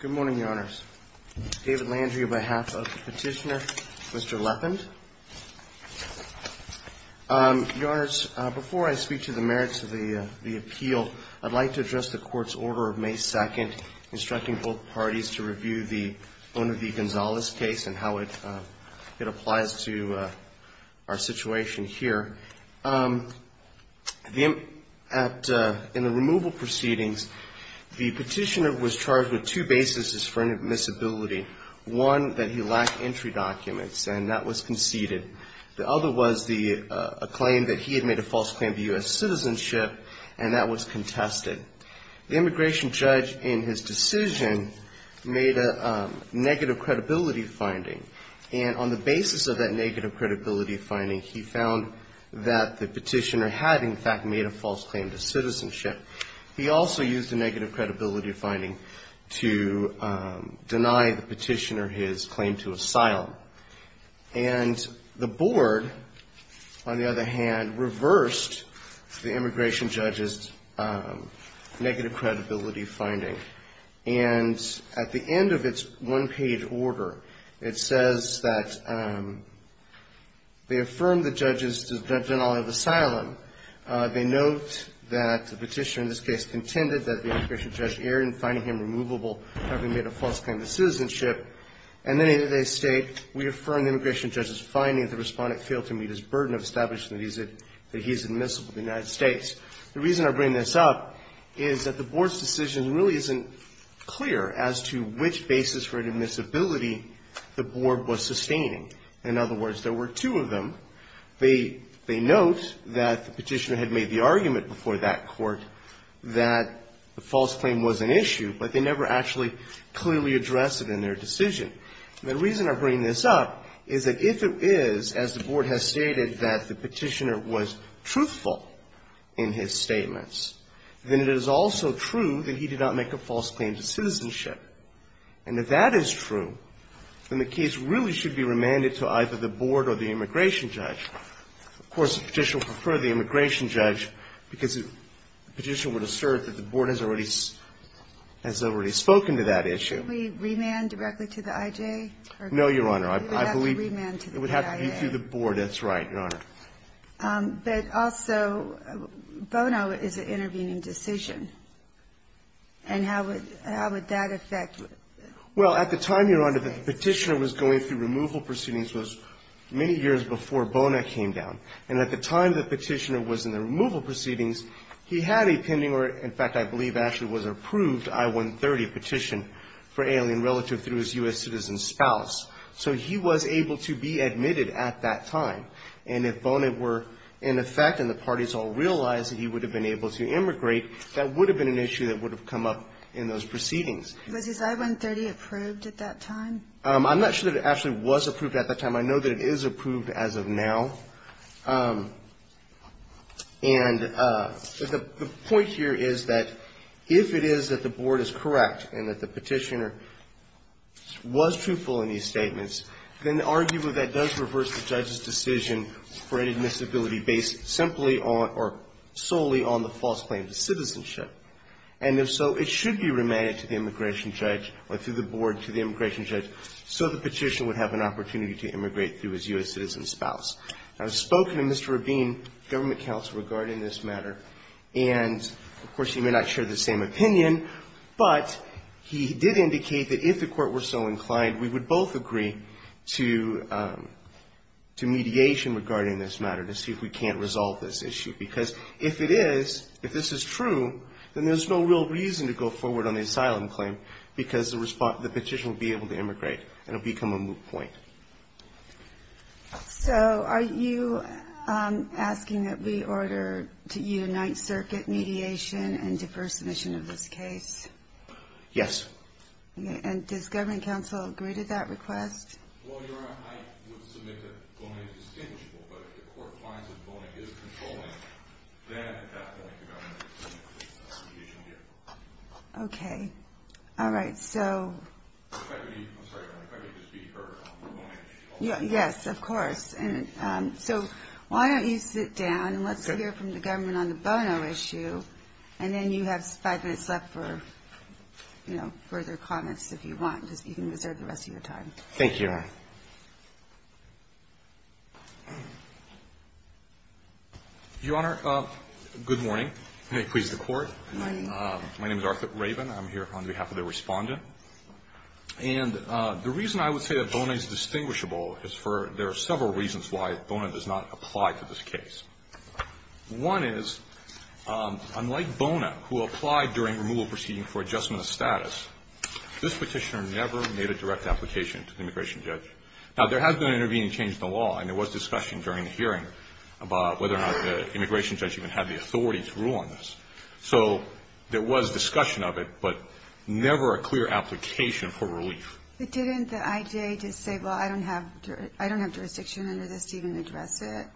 Good morning, Your Honors. David Landry on behalf of the petitioner, Mr. Leppind. Your Honors, before I speak to the merits of the appeal, I'd like to address the Court's order of May 2nd instructing both parties to review the Bonavie-Gonzalez case and how it applies to our situation here. In the removal proceedings, the petitioner was charged with two bases for inadmissibility. One, that he lacked entry documents, and that was conceded. The other was a claim that he had made a false claim to U.S. citizenship, and that was contested. The immigration judge, in his decision, made a negative credibility finding, and on the basis of that negative credibility finding, he found that the petitioner had, in fact, made a false claim to citizenship. He also used a negative credibility finding to deny the petitioner his claim to asylum. And the Board, on the other hand, reversed the immigration judge's negative credibility finding. And at the end of its one-page order, it says that they affirmed the judge's denial of asylum. They note that the petitioner, in this case, contended that the immigration judge erred in finding him removable, having made a false claim to citizenship. And then they state, we affirm the immigration judge's finding that the respondent failed to meet his burden of establishing that he's admissible to the United States. The reason I bring this up is that the Board's decision really isn't clear as to which basis for inadmissibility the Board was sustaining. In other words, there were two of them. They note that the petitioner had made the argument before that court that the false claim was an issue, but they never actually clearly addressed it in their decision. The reason I bring this up is that if it is, as the Board has stated, that the petitioner was truthful in his statements, then it is also true that he did not make a false claim to citizenship. And if that is true, then the case really should be remanded to either the Board or the immigration judge. Of course, the petitioner would prefer the immigration judge because the petitioner would assert that the Board has already spoken to that issue. Can't we remand directly to the I.J.? No, Your Honor. We would have to remand to the I.A. It would have to be through the Board. That's right, Your Honor. But also, Bono is an intervening decision. And how would that affect the case? Well, at the time, Your Honor, that the petitioner was going through removal proceedings was many years before Bono came down. And at the time the petitioner was in the removal proceedings, he had a pending or, in fact, I believe, actually was approved I-130 petition for alien relative through his U.S. citizen spouse. So he was able to be admitted at that time. And if Bono were in effect and the parties all realized that he would have been able to immigrate, that would have been an issue that would have come up in those proceedings. Was I-130 approved at that time? I'm not sure that it actually was approved at that time. I know that it is approved as of now. And the point here is that if it is that the Board is correct and that the petitioner was truthful in these statements, then arguably that does reverse the judge's decision for inadmissibility based simply on or solely on the false claim to citizenship. And if so, it should be remanded to the immigration judge or through the Board to the immigration judge so the petitioner would have an opportunity to immigrate through his U.S. citizen spouse. I've spoken to Mr. Rabin, government counsel, regarding this matter. And, of course, he may not share the same opinion, but he did indicate that if the court were so inclined, we would both agree to mediation regarding this matter to see if we can't resolve this issue. Because if it is, if this is true, then there's no real reason to go forward on the asylum claim because the petitioner will be able to immigrate and it will become a moot point. So are you asking that we order to unite circuit mediation and defer submission of this case? Yes. And does government counsel agree to that request? Well, Your Honor, I would submit that voting is distinguishable, but if the court finds that voting is controlling, then at that point you're going to have to make a mediation deal. Okay. All right. So... Yes, of course. And so why don't you sit down and let's hear from the government on the bono issue and then you have five minutes left for, you know, further comments if you want, because you can reserve the rest of your time. Thank you, Your Honor. Your Honor, good morning. May it please the Court. Good morning. My name is Arthur Raven. I'm here on behalf of the Respondent. And the reason I would say that bono is distinguishable is for there are several reasons why bono does not apply to this case. One is, unlike bono, who applied during removal proceeding for adjustment of status, this petitioner never made a direct application to the immigration judge. Now, there has been an intervening change in the law, and there was discussion during the hearing about whether or not the immigration judge even had the authority to rule on this. So there was discussion of it, but never a clear application for relief. But didn't the IJA just say, well, I don't have jurisdiction under this to even address it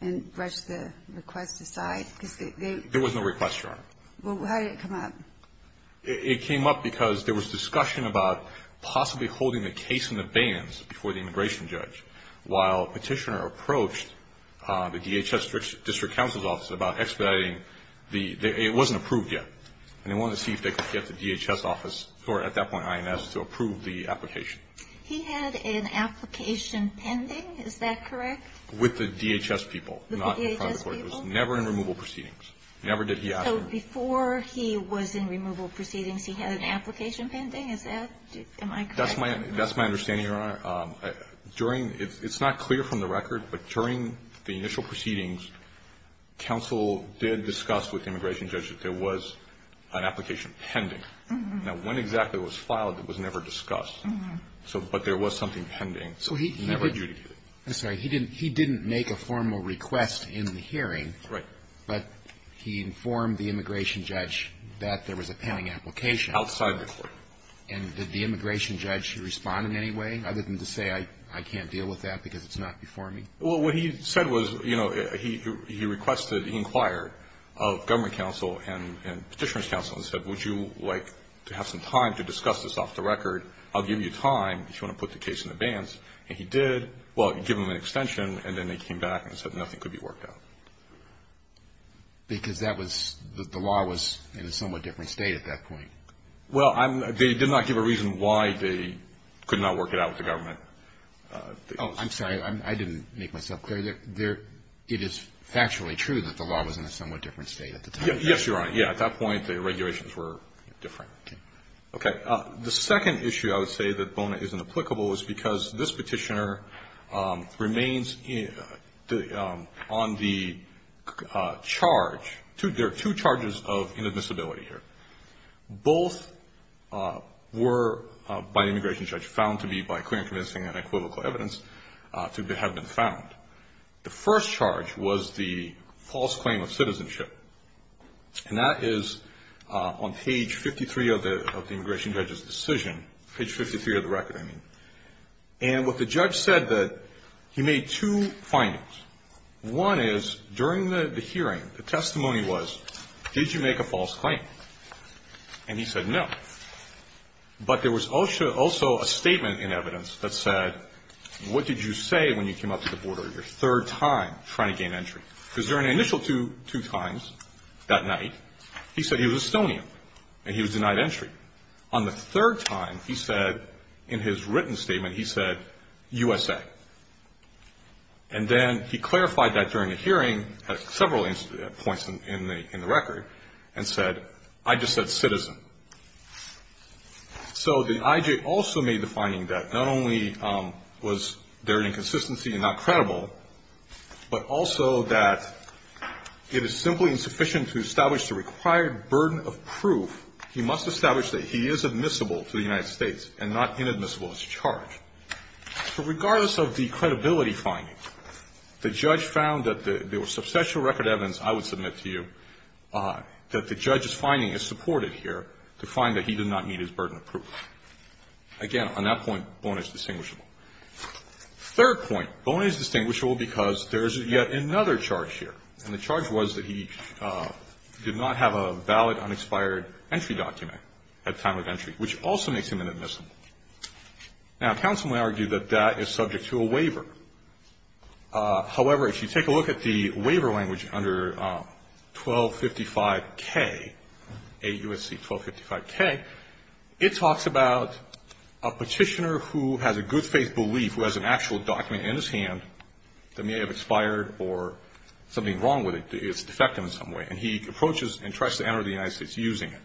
and brush the request aside? Because they... There was no request, Your Honor. Well, how did it come up? It came up because there was discussion about possibly holding the case in the bans before the immigration judge, while a petitioner approached the DHS district counsel's office about expediting the... It wasn't approved yet. And they wanted to see if they could get the DHS office, or at that point IMS, to approve the application. He had an application pending, is that correct? With the DHS people, not in front of the Court. The DHS people? Yes. Never did he ask for... So before he was in removal proceedings, he had an application pending? Is that... That's my understanding, Your Honor. During... It's not clear from the record, but during the initial proceedings, counsel did discuss with the immigration judge that there was an application pending. Now, when exactly it was filed, it was never discussed. But there was something pending. So he... Never adjudicated. I'm sorry. He didn't make a formal request in the hearing. Right. But he informed the immigration judge that there was a pending application. Outside the Court. And did the immigration judge respond in any way, other than to say, I can't deal with that because it's not before me? Well, what he said was, you know, he requested, he inquired of government counsel and petitioner's counsel and said, Would you like to have some time to discuss this off the record? I'll give you time if you want to put the case in the bans. And he did. Well, he gave them an extension, and then they came back and said nothing could be worked out. Because that was... The law was in a somewhat different state at that point. Well, they did not give a reason why they could not work it out with the government. Oh, I'm sorry. I didn't make myself clear. It is factually true that the law was in a somewhat different state at the time. Yes, Your Honor. Yeah, at that point, the regulations were different. Okay. The second issue I would say that Bona is inapplicable is because this petitioner remains on the charge. There are two charges of inadmissibility here. Both were, by the immigration judge, found to be by clear and convincing and equivocal evidence to have been found. The first charge was the false claim of citizenship. And that is on page 53 of the immigration judge's decision. Page 53 of the record, I mean. And what the judge said that he made two findings. One is, during the hearing, the testimony was, did you make a false claim? And he said no. But there was also a statement in evidence that said, what did you say when you came up to the border your third time trying to gain entry? Because during the initial two times that night, he said he was Estonian and he was denied entry. On the third time, he said, in his written statement, he said USA. And then he clarified that during the hearing at several points in the record and said, I just said citizen. So the IJ also made the finding that not only was there an inconsistency and not credible, but also that it is simply insufficient to establish the required burden of proof. He must establish that he is admissible to the United States and not inadmissible as a charge. So regardless of the credibility finding, the judge found that there was substantial record evidence, I would submit to you, that the judge's finding is supported here to find that he did not meet his burden of proof. Again, on that point, Boney is distinguishable. Third point, Boney is distinguishable because there is yet another charge here. And the charge was that he did not have a valid unexpired entry document at the time of entry, which also makes him inadmissible. Now, counsel may argue that that is subject to a waiver. However, if you take a look at the waiver language under 1255K, AUSC 1255K, it talks about a petitioner who has a good faith belief, who has an actual document in his hand that may have expired or something wrong with it. It's defective in some way. And he approaches and tries to enter the United States using it.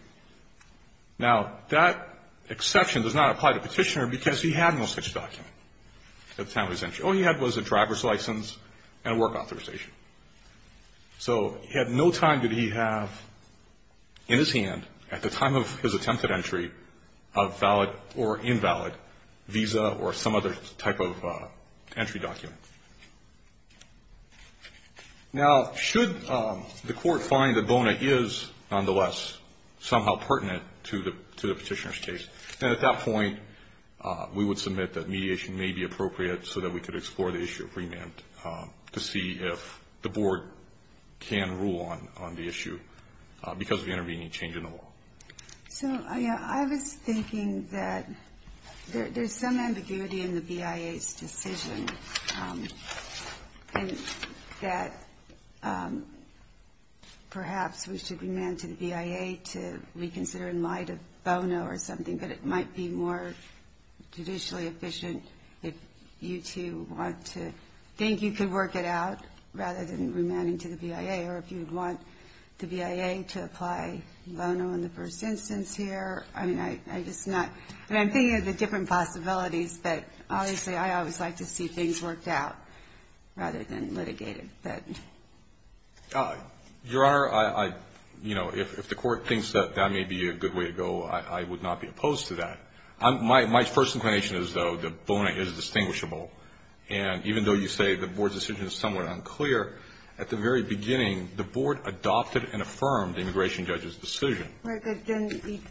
Now, that exception does not apply to the petitioner because he had no such document at the time of his entry. All he had was a driver's license and a work authorization. So at no time did he have in his hand at the time of his attempted entry a valid or invalid visa or some other type of entry document. Now, should the court find that Boney is, nonetheless, somehow pertinent to the petitioner's case, then at that point we would submit that mediation may be appropriate so that we could explore the issue of remand to see if the board can rule on the issue because of the intervening change in the law. So I was thinking that there's some ambiguity in the BIA's decision and that perhaps we should remand to the BIA to reconsider in light of Bono or something, but it might be more judicially efficient if you two want to think you could work it out rather than remanding to the BIA or if you would want the BIA to apply Bono in the first instance here. I mean, I'm just not – I mean, I'm thinking of the different possibilities, but obviously I always like to see things worked out rather than litigated. Your Honor, I – you know, if the court thinks that that may be a good way to go, I would not be opposed to that. My first inclination is, though, that Boney is distinguishable. And even though you say the board's decision is somewhat unclear, at the very beginning, the board adopted and affirmed the immigration judge's decision. We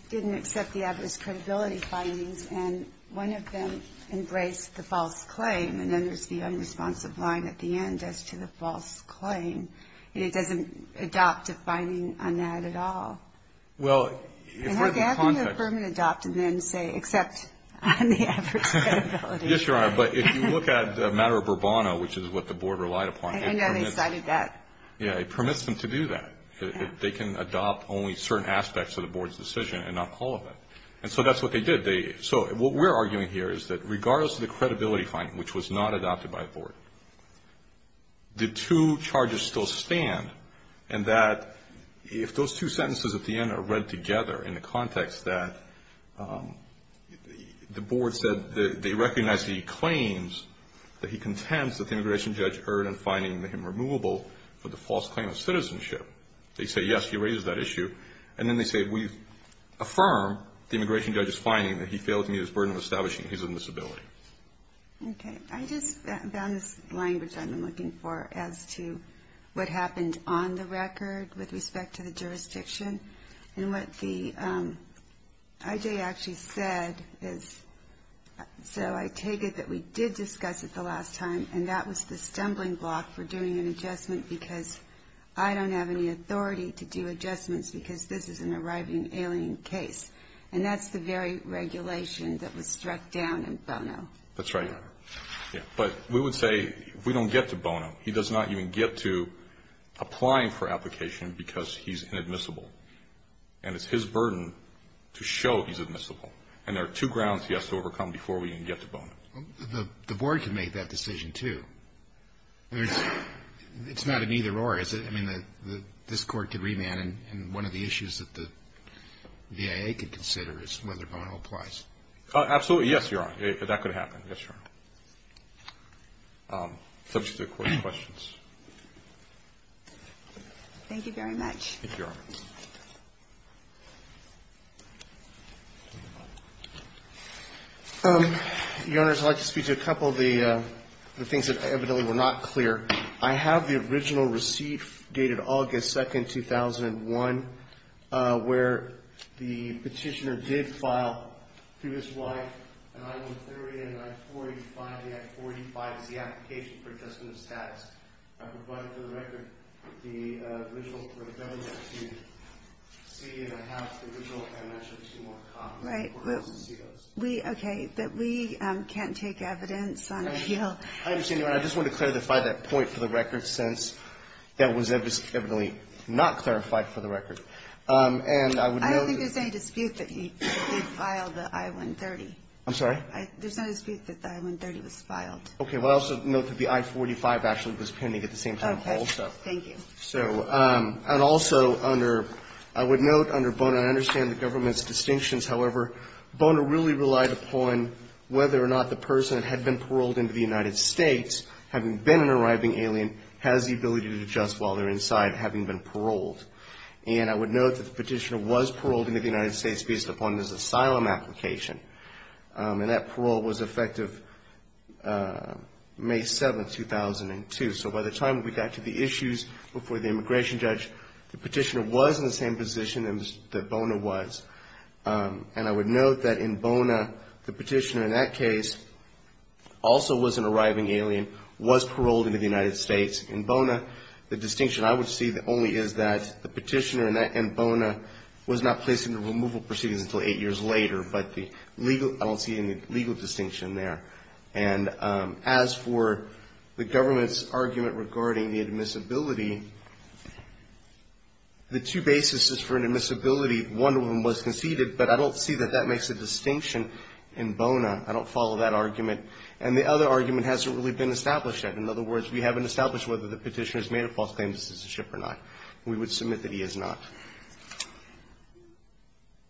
didn't accept the adverse credibility findings, and one of them embraced the false claim, and then there's the unresponsive line at the end as to the false claim. And it doesn't adopt a finding on that at all. Well, if we're – And how can you affirm and adopt and then say, except on the adverse credibility? Yes, Your Honor, but if you look at the matter of Bourbono, which is what the board relied upon – I know they cited that. Yeah, it permits them to do that. They can adopt only certain aspects of the board's decision and not all of it. And so that's what they did. So what we're arguing here is that regardless of the credibility finding, which was not adopted by the board, the two charges still stand, and that if those two sentences at the end are read together in the context that the board said they recognize the claims that he contends that the immigration judge erred in finding him removable for the false claim of citizenship, they say, yes, he raises that issue, and then they say, we affirm the immigration judge's finding that he failed to meet his burden of establishing his admissibility. Okay. I just found this language I've been looking for as to what happened on the record with respect to the jurisdiction. And what the – I.J. actually said is, so I take it that we did discuss it the last time, and that was the stumbling block for doing an adjustment because I don't have any authority to do adjustments because this is an arriving alien case. And that's the very regulation that was struck down in Bono. That's right. Yeah. But we would say if we don't get to Bono, he does not even get to applying for application because he's inadmissible. And it's his burden to show he's admissible. And there are two grounds he has to overcome before we can get to Bono. The board can make that decision, too. It's not an either-or, is it? I mean, this Court can remand. And one of the issues that the V.I.A. could consider is whether Bono applies. Absolutely. Yes, Your Honor. That could happen. Yes, Your Honor. Subject to the Court's questions. Thank you very much. Thank you, Your Honor. Your Honors, I'd like to speak to a couple of the things that evidently were not clear. I have the original receipt dated August 2nd, 2001, where the petitioner did file through his wife an I-130 and an I-485. The I-485 is the application for adjustment of status. I provided for the record the original for the government to see. And I have the original and I'm not sure if it's more common. Right. Okay. But we can't take evidence on appeal. I understand, Your Honor. And I just want to clarify that point for the record since that was evidently not clarified for the record. And I would note that the I-45 actually was pending at the same time also. Okay. Thank you. So, and also under, I would note under Bono, I understand the government's distinctions. However, Bono really relied upon whether or not the person had been paroled into the United States, having been an arriving alien, has the ability to adjust while they're inside, having been paroled. And I would note that the petitioner was paroled into the United States based upon his asylum application. And that parole was effective May 7th, 2002. So by the time we got to the issues before the immigration judge, the petitioner was in the same position that Bono was. And I would note that in Bono, the petitioner in that case also was an arriving alien, was paroled into the United States. In Bono, the distinction I would see only is that the petitioner in Bono was not placed into removal proceedings until eight years later. But the legal, I don't see any legal distinction there. And as for the government's argument regarding the admissibility, the two basis for an admissibility, one of them was conceded, but I don't see that that makes a distinction in Bono. I don't follow that argument. And the other argument hasn't really been established yet. In other words, we haven't established whether the petitioner has made a false claim of citizenship or not. We would submit that he has not.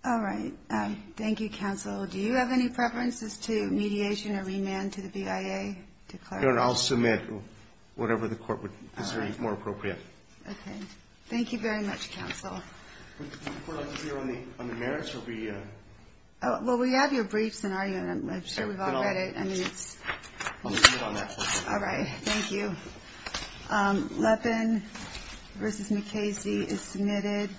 All right. Thank you, counsel. Do you have any preferences to mediation or remand to the BIA? No, I'll submit whatever the court would consider more appropriate. Okay. Thank you very much, counsel. Would the court like to hear on the merits? Well, we have your briefs and argument. I'm sure we've all read it. I'll submit on that. All right. Thank you. Lepin v. McKayse is submitted.